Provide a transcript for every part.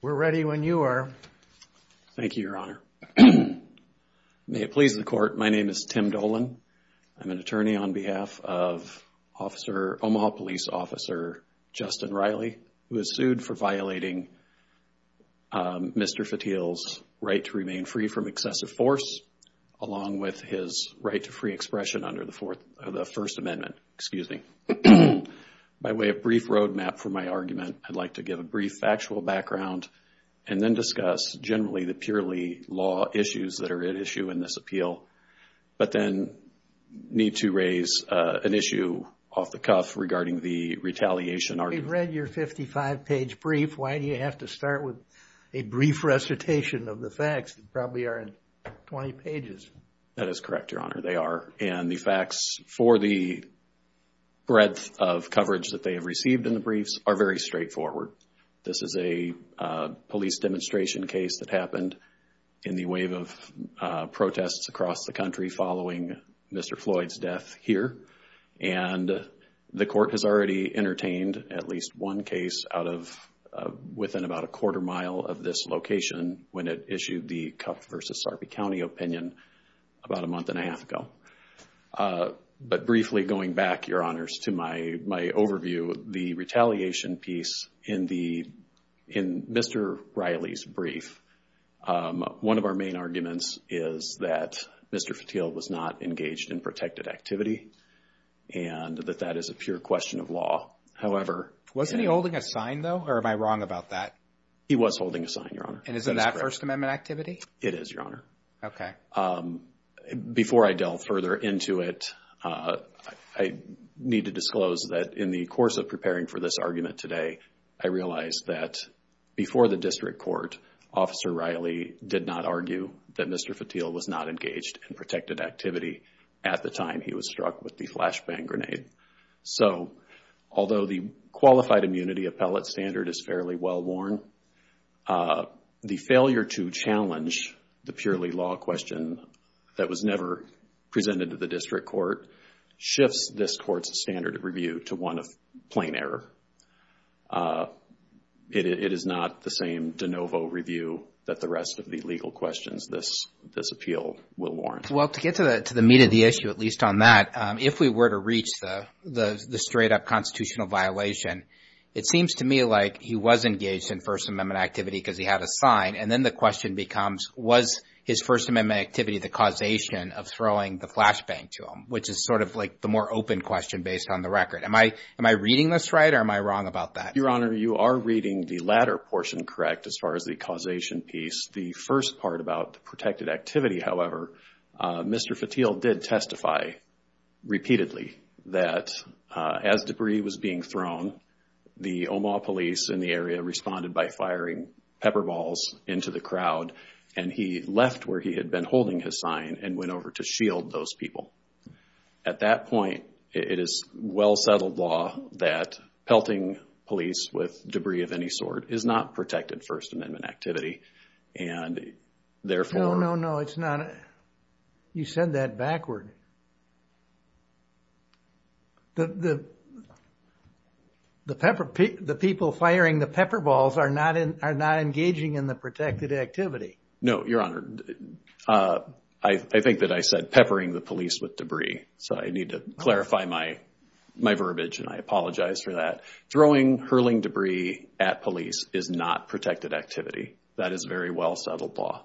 We're ready when you are. Thank you, Your Honor. May it please the Court, my name is Tim Dolan. I'm an attorney on behalf of Omaha Police Officer Justyn Riley, who is sued for violating Mr. Fitil's right to remain free from excessive force, along with his right to free expression under the First Amendment. By way of brief roadmap for my argument, I'd like to give a brief factual background and then discuss generally the purely law issues that are at issue in this appeal, but then need to raise an issue off the cuff regarding the retaliation argument. We've read your 55-page brief. Why do you have to start with a brief recitation of the facts that probably aren't 20 pages? That is correct, Your Honor. They are. And the facts for the breadth of coverage that they have received in the briefs are very straightforward. This is a police demonstration case that happened in the wave of protests across the country following Mr. Floyd's death here. And the Court has already entertained at least one case out of within about a quarter mile of this location when it issued the Cuff v. Sarpy County opinion about a month and a half ago. But briefly going back, Your Honors, to my overview, the retaliation piece in Mr. Riley's brief, one of our main arguments is that Mr. Fatil was not engaged in protected activity and that that is a pure question of law. However... Wasn't he holding a sign, though? Or am I wrong about that? He was holding a sign, Your Honor. And isn't that First Amendment activity? It is, Your Honor. Okay. Before I delve further into it, I need to disclose that in the course of preparing for this argument today, I realized that before the district court, Officer Riley did not argue that Mr. Fatil was not engaged in protected activity at the time he was struck with the flashbang grenade. So, although the qualified immunity appellate standard is fairly well worn, the failure to challenge the purely law question that was never presented to the district court, it is not the same de novo review that the rest of the legal questions this appeal will warrant. Well, to get to the meat of the issue, at least on that, if we were to reach the straight-up constitutional violation, it seems to me like he was engaged in First Amendment activity because he had a sign. And then the question becomes, was his First Amendment activity the causation of throwing the flashbang to him, which is sort of like the more open question based on the record. Am I reading this right or am I wrong about that? Your Honor, you are reading the latter portion correct as far as the causation piece. The first part about the protected activity, however, Mr. Fatil did testify repeatedly that as debris was being thrown, the Omaha police in the area responded by firing pepper balls into the crowd and he left where he had been holding his sign and went over to shield those people. At that point, it is well-settled law that pelting police with debris of any sort is not protected First Amendment activity and therefore... No, no, no. It's not. You said that backward. The people firing the pepper balls are not engaging in the protected activity. No, Your Honor. I think that I said peppering the police with debris. So I need to clarify my verbiage and I apologize for that. Throwing hurling debris at police is not protected activity. That is very well-settled law.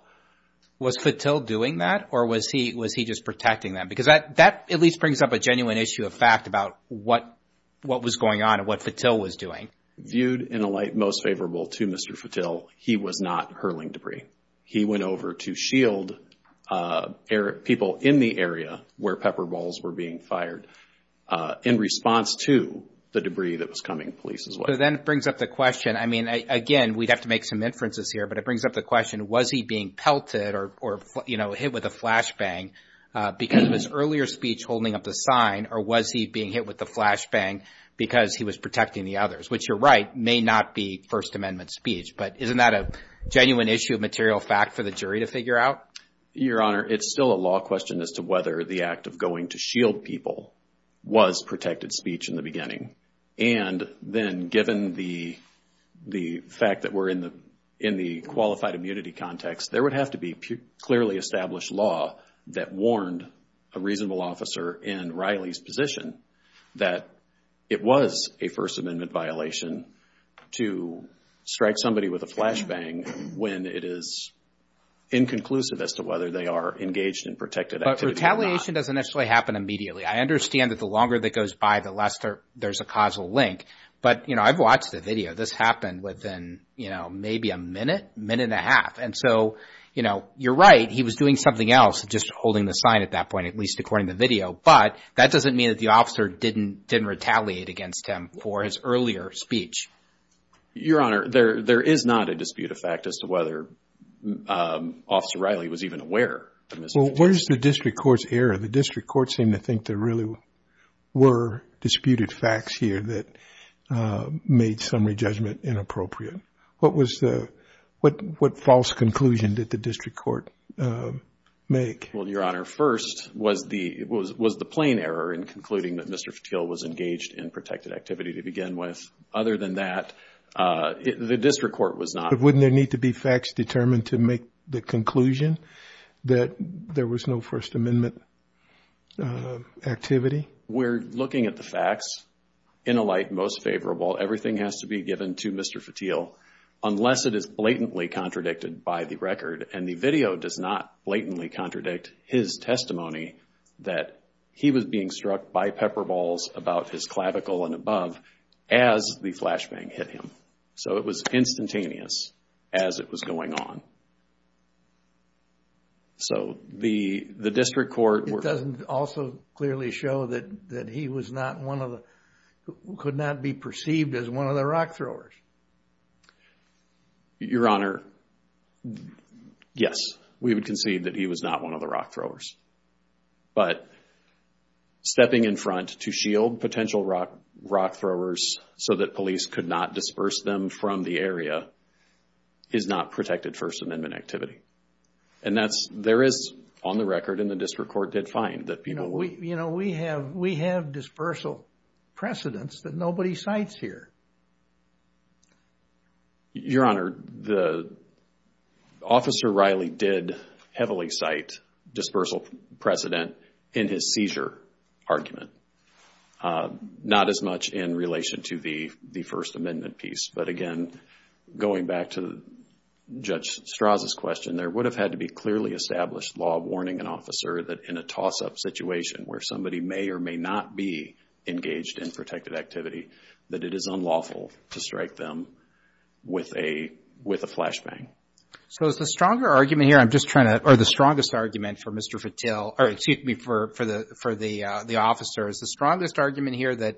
Was Fatil doing that or was he just protecting them? Because that at least brings up a genuine issue of fact about what was going on and what Fatil was doing. Viewed in a light most favorable to Mr. Fatil, he was not hurling debris. He went over to shield people in the area where pepper balls were being fired in response to the debris that was coming to police as well. So then it brings up the question, I mean, again, we'd have to make some inferences here, but it brings up the question, was he being pelted or, you know, hit with a flashbang because of his earlier speech holding up the sign or was he being hit with the flashbang because he was protecting the others, which you're right, may not be First Amendment speech. But isn't that a genuine issue of material fact for the jury to figure out? Your Honor, it's still a law question as to whether the act of going to shield people was protected speech in the beginning. And then given the fact that we're in the qualified immunity context, there would have to be clearly established law that warned a reasonable officer in Riley's position that it was a First Amendment violation to strike somebody with a flashbang when it is inconclusive as to whether they are engaged in protected activity or not. But retaliation doesn't actually happen immediately. I understand that the longer that goes by, the less there's a causal link. But, you know, I've watched the video. This happened within, you know, maybe a minute, minute and a half. And so, you know, you're right, he was doing something else, just holding the sign at that point, at least according to the video. But that doesn't mean that the officer didn't retaliate against him for his earlier speech. Your Honor, there is not a dispute of fact as to whether Officer Riley was even aware of the misdemeanor. Well, where's the district court's error? The district court seemed to think there really were disputed facts here that made summary judgment inappropriate. What false conclusion did the district court make? Well, Your Honor, first was the plain error in concluding that Mr. Fetteel was engaged in protected activity to begin with. Other than that, the district court was not. But wouldn't there need to be facts determined to make the conclusion that there was no First Amendment activity? We're looking at the facts in a light most favorable. Everything has to be given to Mr. Riley's record. And the video does not blatantly contradict his testimony that he was being struck by pepper balls about his clavicle and above as the flashbang hit him. So, it was instantaneous as it was going on. So, the district court... It doesn't also clearly show that he was not one of the...could not be perceived as one of the rock throwers. Your Honor, yes, we would concede that he was not one of the rock throwers. But stepping in front to shield potential rock throwers so that police could not disperse them from the area is not protected First Amendment activity. And that's...there is on the record in the district court did find that people... You know, we have dispersal precedents that nobody cites here. Your Honor, Officer Riley did heavily cite dispersal precedent in his seizure argument. Not as much in relation to the First Amendment piece. But again, going back to Judge Strauss's question, there would have had to be clearly established law warning an officer that in a toss-up situation where somebody may or may not be engaged in protected activity, that it is unlawful to strike them with a flashbang. So is the stronger argument here, I'm just trying to...or the strongest argument for Mr. Fatil, or excuse me, for the officers, the strongest argument here that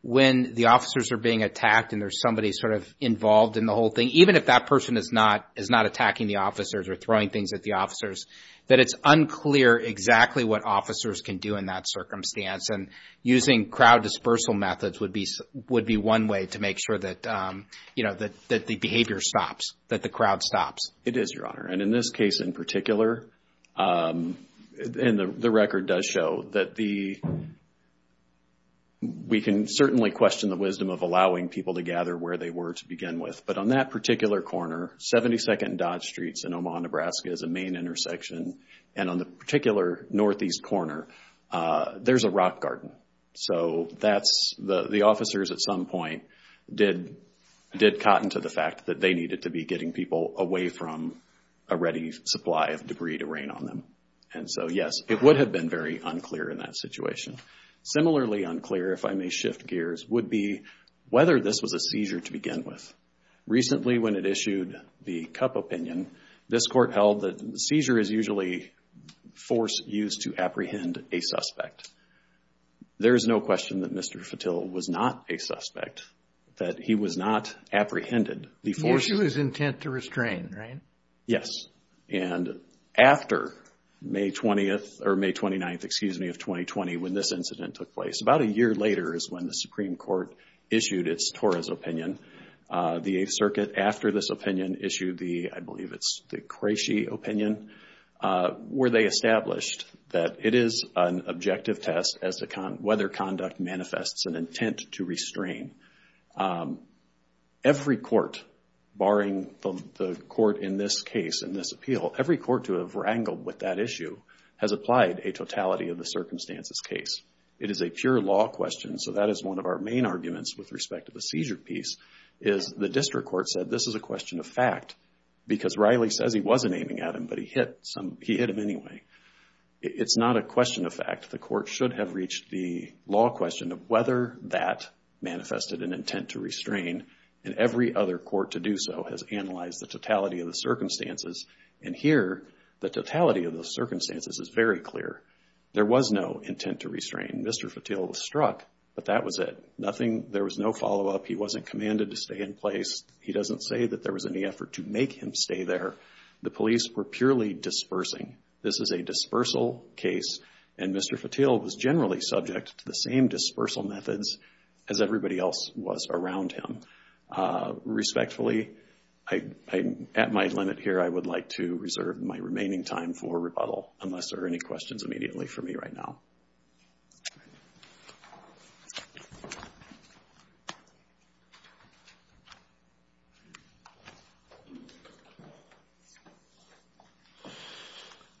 when the officers are being attacked and there's somebody sort of involved in the whole thing, even if that person is not attacking the officers or throwing things at the officers, that it's unclear exactly what officers can do in that circumstance. And using crowd dispersal methods would be one way to make sure that, you know, that the behavior stops, that the crowd stops. It is, Your Honor. And in this case in particular, and the record does show that the...we can certainly question the wisdom of allowing people to gather where they were to begin with. But on that particular corner, 72nd and Dodge Streets in Omaha, Nebraska is a main intersection, and on the particular northeast corner, there's a rock garden. So that's...the officers at some point did cotton to the fact that they needed to be getting people away from a ready supply of debris to rain on them. And so, yes, it would have been very unclear in that situation. Similarly unclear, if I may shift gears, would be whether this was a seizure to begin with. Recently, when it issued the CUP opinion, this court held that seizure is usually force used to apprehend a suspect. There is no question that Mr. Fatil was not a suspect, that he was not apprehended. The issue is intent to restrain, right? Yes. And after May 20th, or May 29th, excuse me, of 2020, when this incident took place, about a year later is when the Supreme Court issued its Torres opinion. The Eighth Circuit, after this opinion, issued the, I believe it's the Cresci opinion, where they established that it is an objective test as to whether conduct manifests an intent to restrain. Every court, barring the court in this case, in this appeal, every court to have wrangled with that issue has applied a totality of the circumstances case. It is a pure law question, so that is one of our main arguments with respect to the seizure piece, is the district court said this is a question of fact, because Riley says he wasn't aiming at him, but he hit him anyway. It's not a question of fact. The court should have reached the law question of whether that manifested an intent to restrain, and every other court to do so has analyzed the totality of the circumstances, and here, the totality of the circumstances is very clear. There was no intent to restrain. Mr. Fatil was struck, but that was it. Nothing, there was no follow-up. He wasn't commanded to stay in place. He doesn't say that there was any effort to make him stay there. The police were purely dispersing. This is a dispersal case, and Mr. Fatil was generally subject to the same dispersal methods as everybody else was around him. Respectfully, I'm at my limit here. I would like to reserve my remaining time for rebuttal, unless there are any questions immediately for me right now.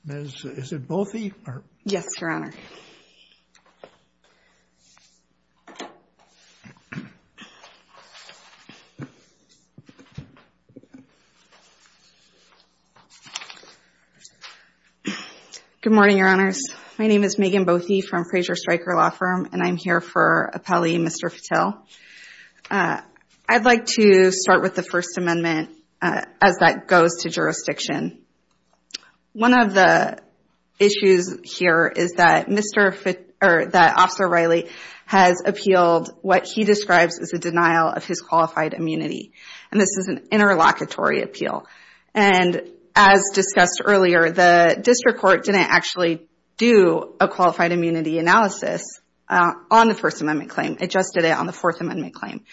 Ms. Boathy? Yes, Your Honor. Good morning, Your Honors. My name is Megan Boathy from Fraser Stryker Law Firm, and I'm here for Appellee Mr. Fatil. I'd like to start with the First Amendment as that goes to jurisdiction. One of the issues here is that Officer Riley has appealed what he describes as a denial of his qualified immunity, and this is an interlocutory appeal. As discussed earlier, the district court didn't actually do a qualified immunity analysis on the First Amendment claim. It just did it on the Fourth Amendment claim.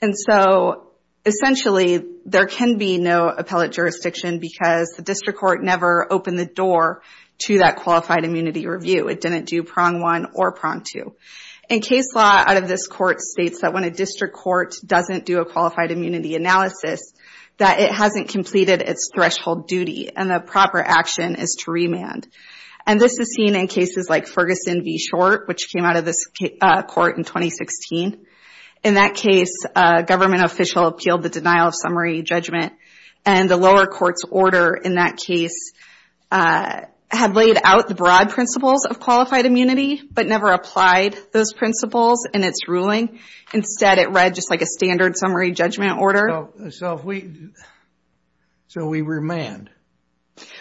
And so, essentially, there can be no appellate jurisdiction because the district court never opened the door to that qualified immunity review. It didn't do prong one or prong two. And case law out of this court states that when a district court doesn't do a qualified immunity analysis, that it hasn't completed its threshold duty, and the proper action is to remand. And this is seen in cases like Ferguson v. Short, which came out of this court in 2016. In that case, a government official appealed the denial of summary judgment, and the lower court's order in that case had laid out the broad principles of qualified immunity but never applied those principles in its ruling. Instead, it read just like a standard summary judgment order. So, we remand.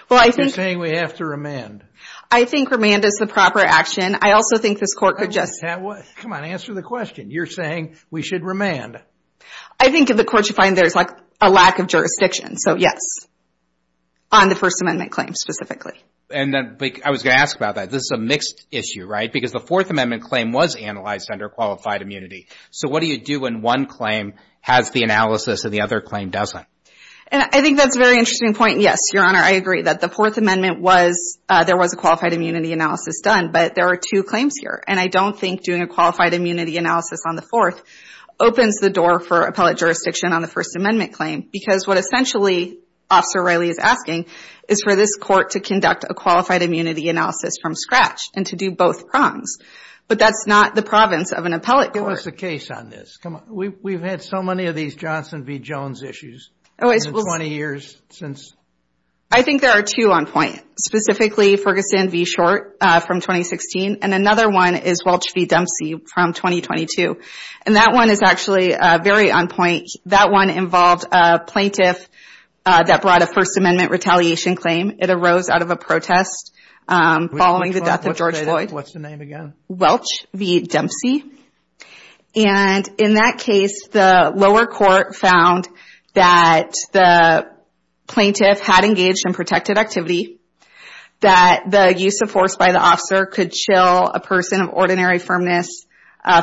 Well, I think... You're saying we have to remand. I think remand is the proper action. I also think this court could just... Come on, answer the question. You're saying we should remand. I think in the court, you find there's a lack of jurisdiction. So, yes, on the First Amendment claim specifically. And then, I was going to ask about that. This is a mixed issue, right? Because the Fourth Amendment claim was analyzed under qualified immunity. So, what do you do when one claim has the analysis and the other claim doesn't? And I think that's a very interesting point. Yes, Your Honor, I agree that the Fourth Amendment was... There was a qualified immunity analysis done, but there are two claims here. And I don't think doing a qualified immunity analysis on the Fourth opens the door for appellate jurisdiction on the First Amendment claim. Because what essentially Officer Riley is asking is for this court to conduct a qualified immunity analysis from scratch and to do both prongs. But that's not the province of an appellate court. Give us a case on this. Come on. We've had so many of these Johnson v. Jones issues in 20 years since... I think there are two on point. Specifically, Ferguson v. Short from 2016. And another one is Welch v. Dempsey from 2022. And that one is actually very on point. That one involved a plaintiff that brought a First Amendment retaliation claim. It arose out of a protest following the death of George Floyd. What's the name again? Welch v. Dempsey. And in that case, the lower court found that the plaintiff had engaged in protected activity. That the use of force by the officer could chill a person of ordinary firmness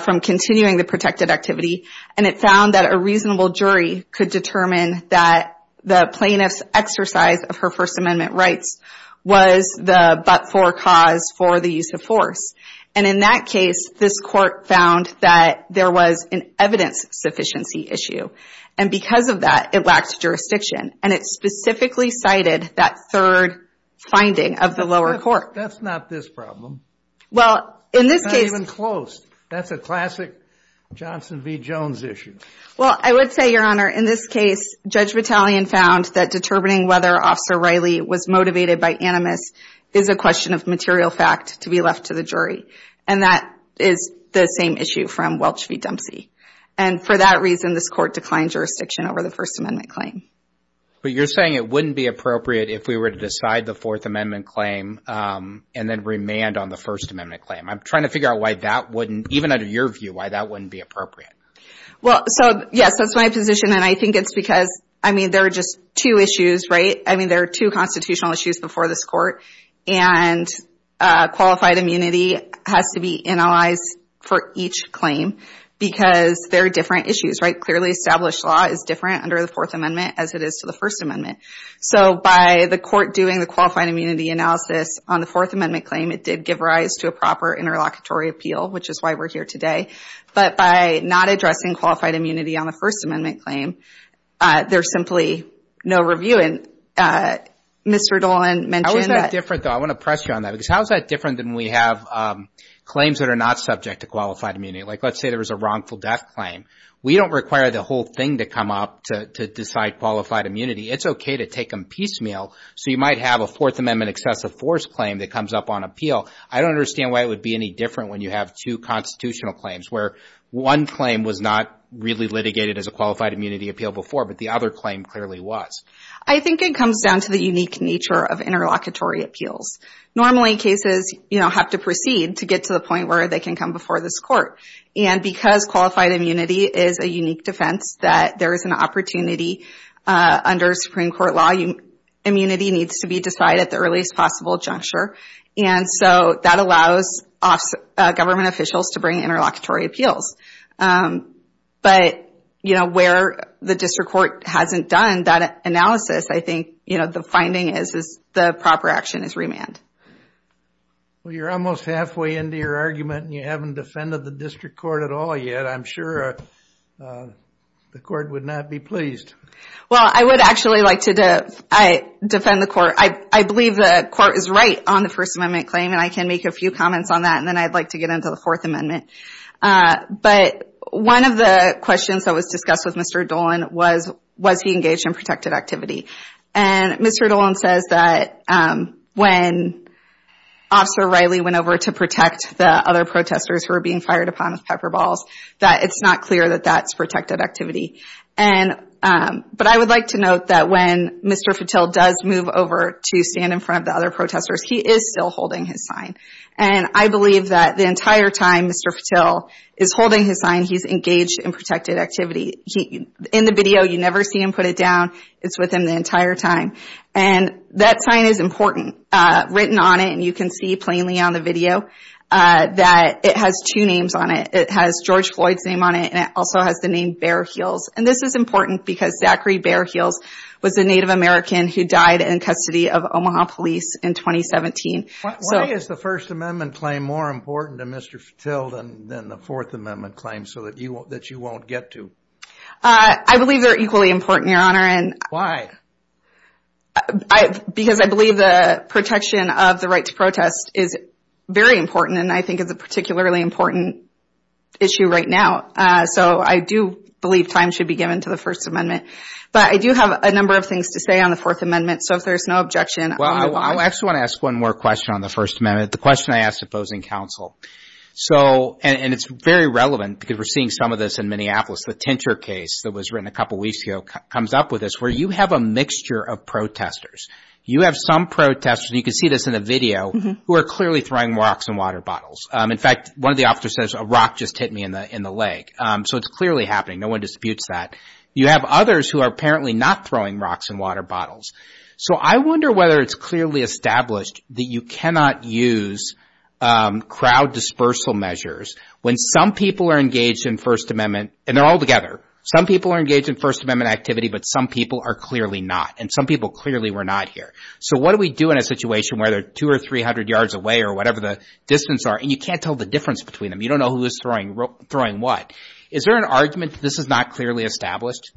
from continuing the protected activity. And it found that a reasonable jury could determine that the plaintiff's exercise of her First Amendment rights was the but-for cause for the use of force. And in that case, this court found that there was an evidence sufficiency issue. And because of that, it lacked jurisdiction. And it specifically cited that third finding of the lower court. That's not this problem. Well, in this case... It's not even close. That's a classic Johnson v. Jones issue. Well, I would say, Your Honor, in this case, Judge Battalion found that determining whether Officer Riley was motivated by animus is a question of material fact to be left to the jury. And that is the same issue from Welch v. Dempsey. And for that reason, this court declined jurisdiction over the First Amendment claim. But you're saying it wouldn't be appropriate if we were to decide the Fourth Amendment claim and then remand on the First Amendment claim. I'm trying to figure out why that wouldn't, even under your view, why that wouldn't be appropriate. Well, so, yes, that's my position. And I think it's because, I mean, there are just two issues, right? I mean, there are two constitutional issues before this court. And qualified immunity has to be analyzed for each claim because they're different issues, right? Clearly, established law is different under the Fourth Amendment as it is to the First Amendment. So by the court doing the qualified immunity analysis on the Fourth Amendment claim, it did give rise to a proper interlocutory appeal, which is why we're here today. But by not addressing qualified immunity on the First Amendment claim, there's simply no review. And Mr. Dolan mentioned that... How is that different, though? I want to press you on that. Because how is that different than we have claims that are not subject to qualified immunity? Like, let's say there was a wrongful death claim. We don't require the whole thing to come up to decide qualified immunity. It's okay to take them piecemeal. So you might have a Fourth Amendment excessive force claim that comes up on appeal. I don't understand why it would be any different when you have two constitutional claims, where one claim was not really litigated as a qualified appeal before, but the other claim clearly was. I think it comes down to the unique nature of interlocutory appeals. Normally, cases have to proceed to get to the point where they can come before this court. And because qualified immunity is a unique defense that there is an opportunity under Supreme Court law, immunity needs to be decided at the earliest possible juncture. And so that allows government officials to bring interlocutory appeals. But, you know, where the district court hasn't done that analysis, I think, you know, the finding is the proper action is remand. Well, you're almost halfway into your argument, and you haven't defended the district court at all yet. I'm sure the court would not be pleased. Well, I would actually like to defend the court. I believe the court is right on the First Amendment claim, and I can make a few comments on that, and then I'd like to get into the Fourth Amendment. But one of the questions that was discussed with Mr. Dolan was, was he engaged in protected activity? And Mr. Dolan says that when Officer Riley went over to protect the other protesters who were being fired upon with pepper balls, that it's not clear that that's protected activity. And, but I would like to note that when Mr. Fatil does move over to stand in front of the protesters, he is still holding his sign. And I believe that the entire time Mr. Fatil is holding his sign, he's engaged in protected activity. In the video, you never see him put it down. It's with him the entire time. And that sign is important, written on it, and you can see plainly on the video that it has two names on it. It has George Floyd's name on it, and it also has the name Bear Heels. And this is important because Zachary Bear Heels was a Native American who died in custody of Omaha police in 2017. Why is the First Amendment claim more important to Mr. Fatil than the Fourth Amendment claim so that you won't get to? I believe they're equally important, Your Honor. Why? Because I believe the protection of the right to protest is very important and I think it's a particularly important issue right now. So I do believe time should be given to the First Amendment. But I do have a number of things to say on the Fourth Amendment, so if there's no objection... Well, I actually want to ask one more question on the First Amendment. The question I asked opposing counsel. So, and it's very relevant because we're seeing some of this in Minneapolis. The Tinter case that was written a couple weeks ago comes up with this, where you have a mixture of protesters. You have some protesters, and you can see this in the video, who are clearly throwing rocks and water bottles. In fact, one of the officers says, a rock just hit me in the leg. So it's clearly happening. No one disputes that. You have others who are apparently not throwing rocks and water bottles. So I wonder whether it's clearly established that you cannot use crowd dispersal measures when some people are engaged in First Amendment, and they're all together. Some people are engaged in First Amendment activity, but some people are clearly not, and some people clearly were not here. So what do we do in a situation where they're 200 or 300 yards away or whatever the distance are, and you can't tell the difference between them? You don't know who is throwing what. Is there an argument that this is not clearly established?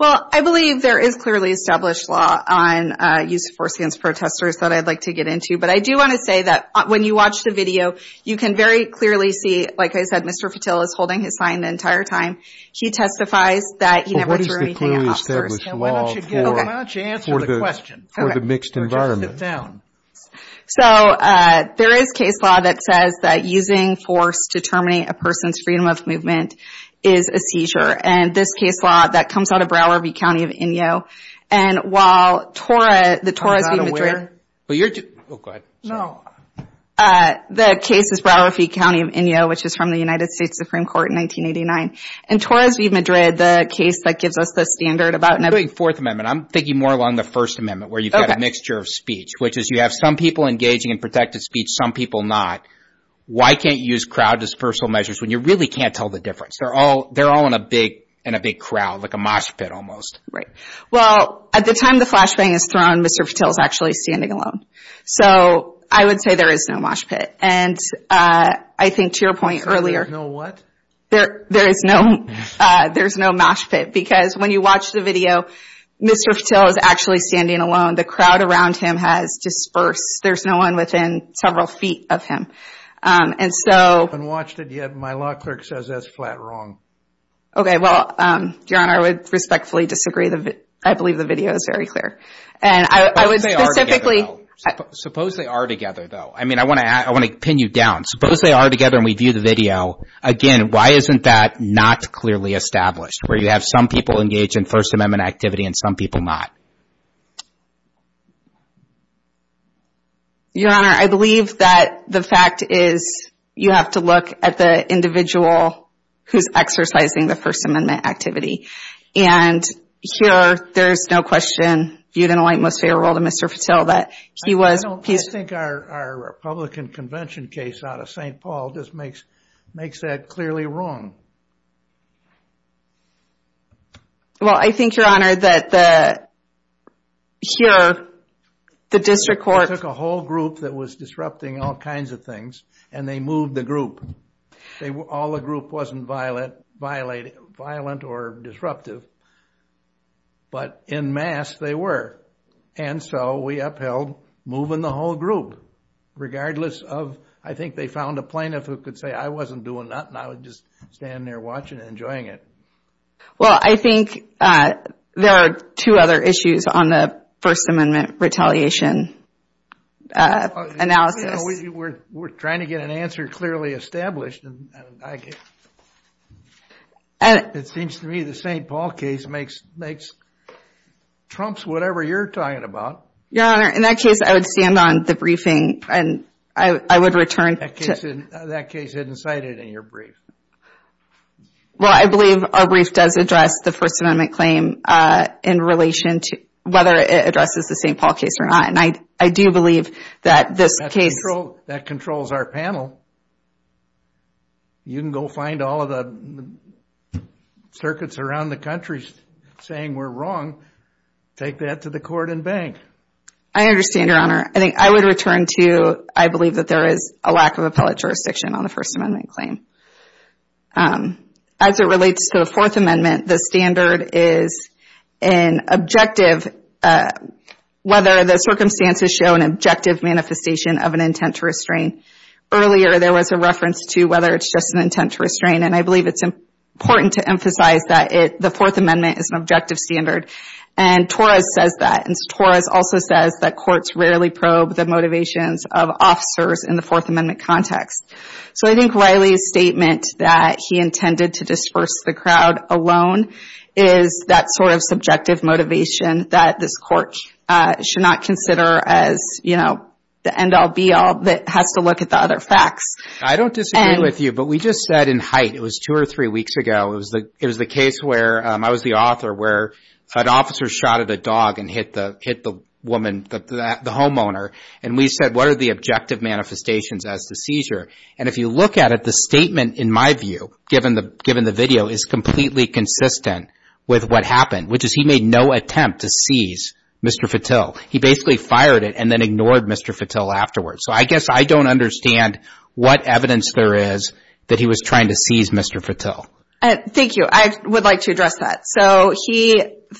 Well, I believe there is clearly established law on use of force against protesters that I'd like to get into. But I do want to say that when you watch the video, you can very clearly see, like I said, Mr. Fittell is holding his sign the entire time. He testifies that he never threw anything at officers. So what is the clearly established law for the mixed environment? So there is case law that says that using force to terminate a person's freedom of movement is a seizure. And this case law that comes out of Broward V. County of Inyo. The case is Broward V. County of Inyo, which is from the United States Supreme Court in 1989. And Torres V. Madrid, the case that gives us the standard about- I'm thinking more along the First Amendment, where you've got a mixture of speech, which is you have some people engaging in protected speech, some people not. Why can't you use crowd dispersal measures when you really can't tell the difference? They're all in a big crowd, like a mosh pit almost. Right. Well, at the time the flashbang is thrown, Mr. Fittell is actually standing alone. So I would say there is no mosh pit. And I think to your point earlier- There's no what? There is no mosh pit. Because when you watch the video, Mr. Fittell is actually standing alone. The crowd around him has dispersed. There's no one within several feet of him. And so- I haven't watched it yet. My law clerk says that's flat wrong. Okay. Well, Your Honor, I would respectfully disagree. I believe the video is very clear. Suppose they are together, though. I mean, I want to pin you down. Suppose they are together and we view the video. Again, why isn't that not clearly established, where you have some people engaged in First Amendment activity and some people not? Your Honor, I believe that the fact is you have to look at the individual who's exercising the First Amendment activity. And here, there's no question, viewed in a light most favorable to Mr. Fittell, that he was- I don't think our Republican Convention case out of St. Paul just makes that clearly wrong. Well, I think, Your Honor, that here, the district court- They took a whole group that was disrupting all kinds of things, and they moved the group. All the group wasn't violent or disruptive. But en masse, they were. And so we upheld moving the whole group, regardless of- I think they found a plaintiff who could say, I wasn't doing nothing. I was just standing there watching and enjoying it. Well, I think there are two other issues on the First Amendment retaliation analysis. We're trying to get an answer clearly established. It seems to me the St. Paul case makes- trumps whatever you're talking about. Your Honor, in that case, I would stand on the briefing, and I would return to- That case isn't cited in your brief. Well, I believe our brief does address the First Amendment claim in relation to whether it addresses the St. Paul case or not. And I do believe that this case- That controls our panel. You can go find all of the circuits around the country saying we're wrong. Take that to the court and bank. I understand, Your Honor. I think I would return to- I believe that there is a lack of appellate jurisdiction on the First Amendment claim. As it relates to the Fourth Amendment, the standard is an objective- Whether the circumstances show an objective manifestation of an intent to restrain. Earlier, there was a reference to whether it's just an intent to restrain. And I believe it's important to emphasize that the Fourth Amendment is an objective standard. And Torres says that. And Torres also says that courts rarely probe the motivations of officers in the Fourth Amendment context. So I think Riley's statement that he intended to disperse the crowd alone is that sort of subjective motivation that this court should not consider as, you know, the end-all, be-all that has to look at the other facts. I don't disagree with you, but we just said in Haidt, it was two or three weeks ago, it was the case where I was the author, where an officer shot at a dog and hit the woman, the homeowner. And we said, what are the objective manifestations as to seizure? And if you look at it, the statement, in my view, given the video, is completely consistent with what happened, which is he made no attempt to seize Mr. Fatil. He basically fired it and ignored Mr. Fatil afterwards. So I guess I don't understand what evidence there is that he was trying to seize Mr. Fatil. Thank you. I would like to address that. So he,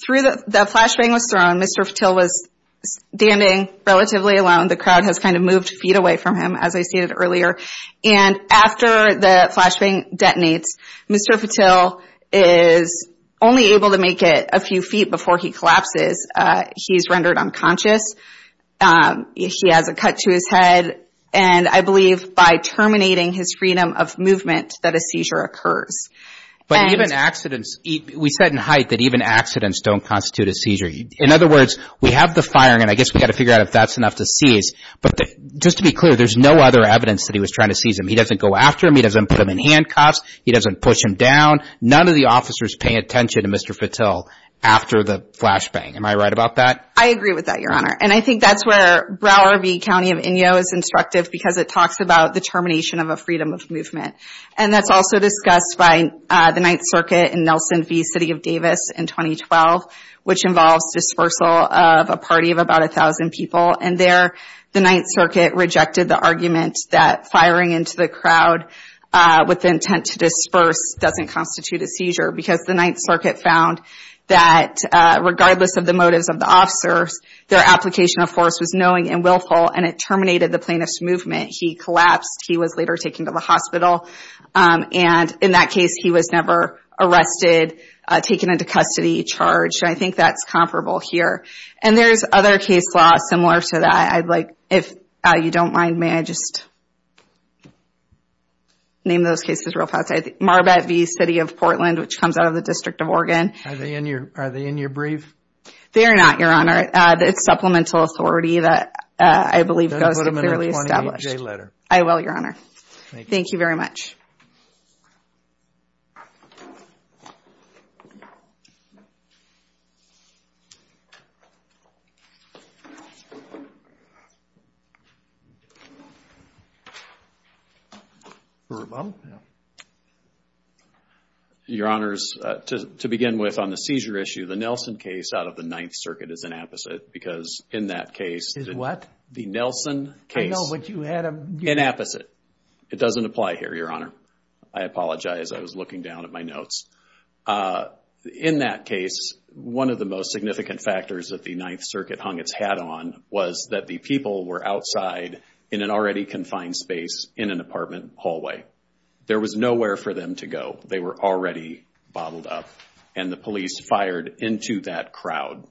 through the flashbang was thrown, Mr. Fatil was standing relatively alone. The crowd has kind of moved feet away from him, as I stated earlier. And after the flashbang detonates, Mr. Fatil is only able to make it a few feet before he collapses. He's rendered unconscious. He has a cut to his head. And I believe by terminating his freedom of movement that a seizure occurs. But even accidents, we said in Haidt that even accidents don't constitute a seizure. In other words, we have the firing, and I guess we've got to figure out if that's enough to seize. But just to be clear, there's no other evidence that he was trying to seize him. He doesn't go after him. He doesn't put him in handcuffs. He doesn't push him down. None of the officers pay attention to Mr. Fatil after the flashbang. Am I right about that? I agree with that, Your Honor. And I think that's where Broward v. County of Inyo is instructive because it talks about the termination of a freedom of movement. And that's also discussed by the Ninth Circuit in Nelson v. City of Davis in 2012, which involves dispersal of a party of about a thousand people. And there, the Ninth Circuit rejected the argument that firing into the crowd with the intent to disperse doesn't constitute a seizure. Because the Ninth Circuit found that regardless of the motives of the officers, their application of force was knowing and willful, and it terminated the plaintiff's movement. He collapsed. He was later taken to the hospital. And in that case, he was never arrested, taken into custody, charged. I think that's comparable here. And there's other case law similar to that. If you don't mind, may I just name those cases real fast? Marbet v. City of Portland, which comes out of the District of Oregon. Are they in your brief? They are not, Your Honor. It's supplemental authority that I believe goes to clearly established. I will, Your Honor. Thank you very much. All right, Bob. Your Honors, to begin with, on the seizure issue, the Nelson case out of the Ninth Circuit is an apposite. Because in that case... Is what? The Nelson case... I know, but you had a... An apposite. It doesn't apply here, Your Honor. I apologize. I was looking down at my notes. In that case, one of the most significant factors that the Ninth Circuit hung its hat on was that the people were outside in an already confined space in an apartment hallway. There was nowhere for them to go. They were already bottled up. And the police fired into that crowd.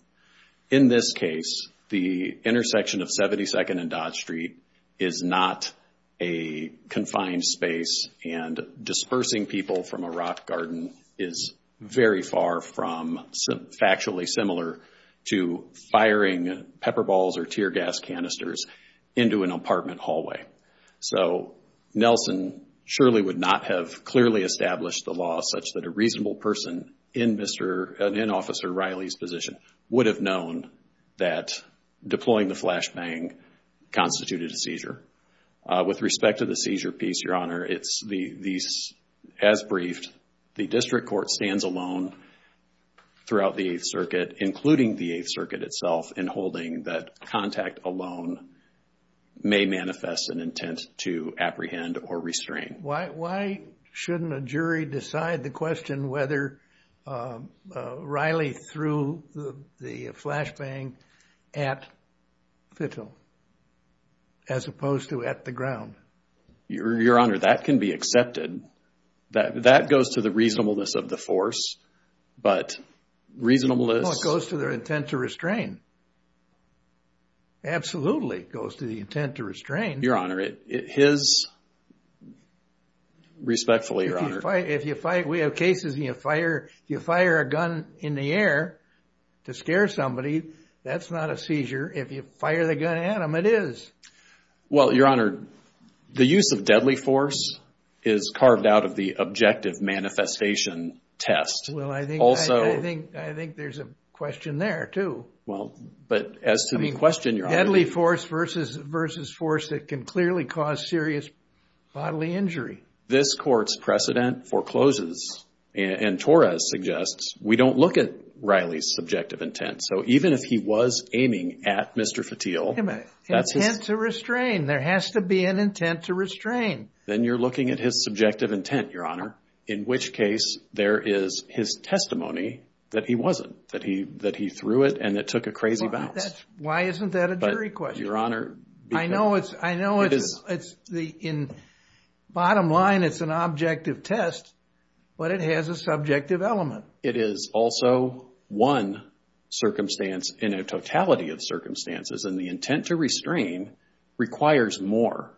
In this case, the intersection of 72nd and Dodge Street is not a confined space. And dispersing people from a rock garden is very far from factually similar to firing pepper balls or tear gas canisters into an apartment hallway. So Nelson surely would not have clearly established the law such that a reasonable person in Officer Riley's position would have known that deploying the flashbang constituted a seizure. With respect to the seizure piece, Your Honor, it's as briefed. The district court stands alone throughout the Eighth Circuit, including the Eighth Circuit itself, in holding that contact alone may manifest an intent to apprehend or restrain. Why shouldn't a jury decide the question whether Riley threw the flashbang at Fittell as opposed to at the ground? Your Honor, that can be accepted. That goes to the reasonableness of the force. But reasonableness... Well, it goes to their intent to restrain. Absolutely, it goes to the intent to restrain. Your Honor, it is... Respectfully, Your Honor... If you fire... We have cases where you fire a gun in the air to scare somebody. That's not a seizure. If you fire the gun at them, it is. Well, Your Honor, the use of deadly force is carved out of the objective manifestation test. Well, I think there's a question there, too. Well, but as to the question, Your Honor... Deadly force versus force that can clearly cause serious bodily injury. This court's precedent forecloses, and Torres suggests, we don't look at Riley's subjective intent. So even if he was aiming at Mr. Fittell... Intent to restrain. There has to be an intent to restrain. Then you're looking at his subjective intent, Your Honor, in which case there is his testimony that he wasn't, that he threw it and it took a crazy bounce. Why isn't that a jury question? But, Your Honor... I know it's... In bottom line, it's an objective test, but it has a subjective element. It is also one circumstance in a totality of circumstances, and the intent to restrain requires more.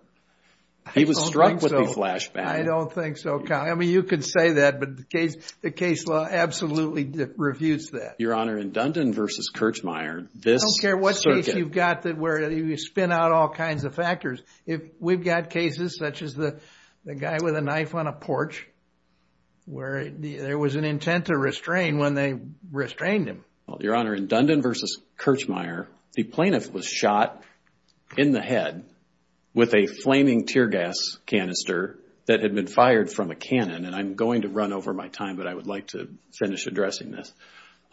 He was struck with the flashback. I don't think so, Kyle. I mean, you could say that, but the case law absolutely refutes that. Your Honor, in Dundon versus Kirchmeier, this... I don't care what case you've got where you spin out all kinds of factors. If we've got cases such as the guy with a knife on a porch, where there was an intent to restrain when they restrained him. Your Honor, in Dundon versus Kirchmeier, the plaintiff was shot in the head with a flaming tear gas canister that had been fired from a cannon. And I'm going to run over my time, but I would like to finish addressing this.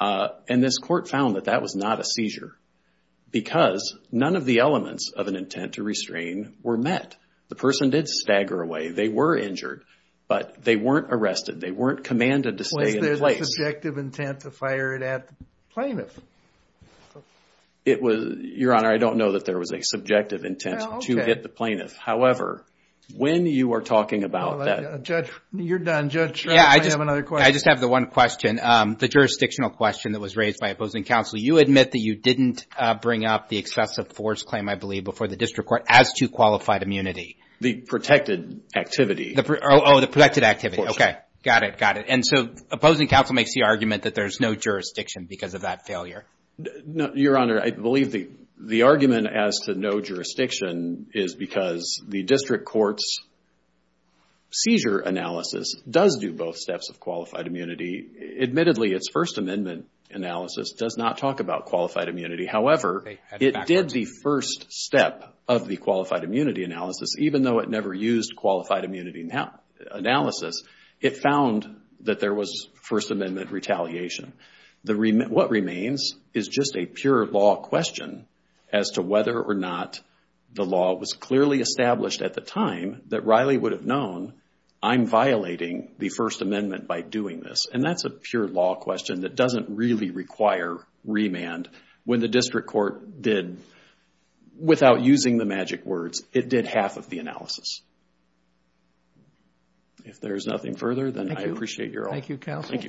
And this court found that that was not a seizure because none of the elements of an intent to restrain were met. The person did stagger away. They were injured, but they weren't arrested. They weren't commanded to stay in place. Was there a subjective intent to fire it at the plaintiff? Your Honor, I don't know that there was a subjective intent to hit the plaintiff. However, when you are talking about that... Judge, you're done. Judge, I have another question. I just have the one question, the jurisdictional question that was raised by opposing counsel. You admit that you didn't bring up the excessive force claim, I believe, before the district court as to qualified immunity. The protected activity. Oh, the protected activity. Okay, got it, got it. And so opposing counsel makes the argument that there's no jurisdiction because of that failure. Your Honor, I believe the argument as to no jurisdiction is because the district court's seizure analysis does do both steps of qualified immunity. Admittedly, its First Amendment analysis does not talk about qualified immunity. However, it did the first step of the qualified immunity analysis even though it never used qualified immunity analysis. It found that there was First Amendment retaliation. What remains is just a pure law question as to whether or not the law was clearly established at the time that Riley would have known, I'm violating the First Amendment by doing this. And that's a pure law question that doesn't really require remand. When the district court did, without using the magic words, it did half of the analysis. If there's nothing further, then I appreciate your... Thank you, counsel.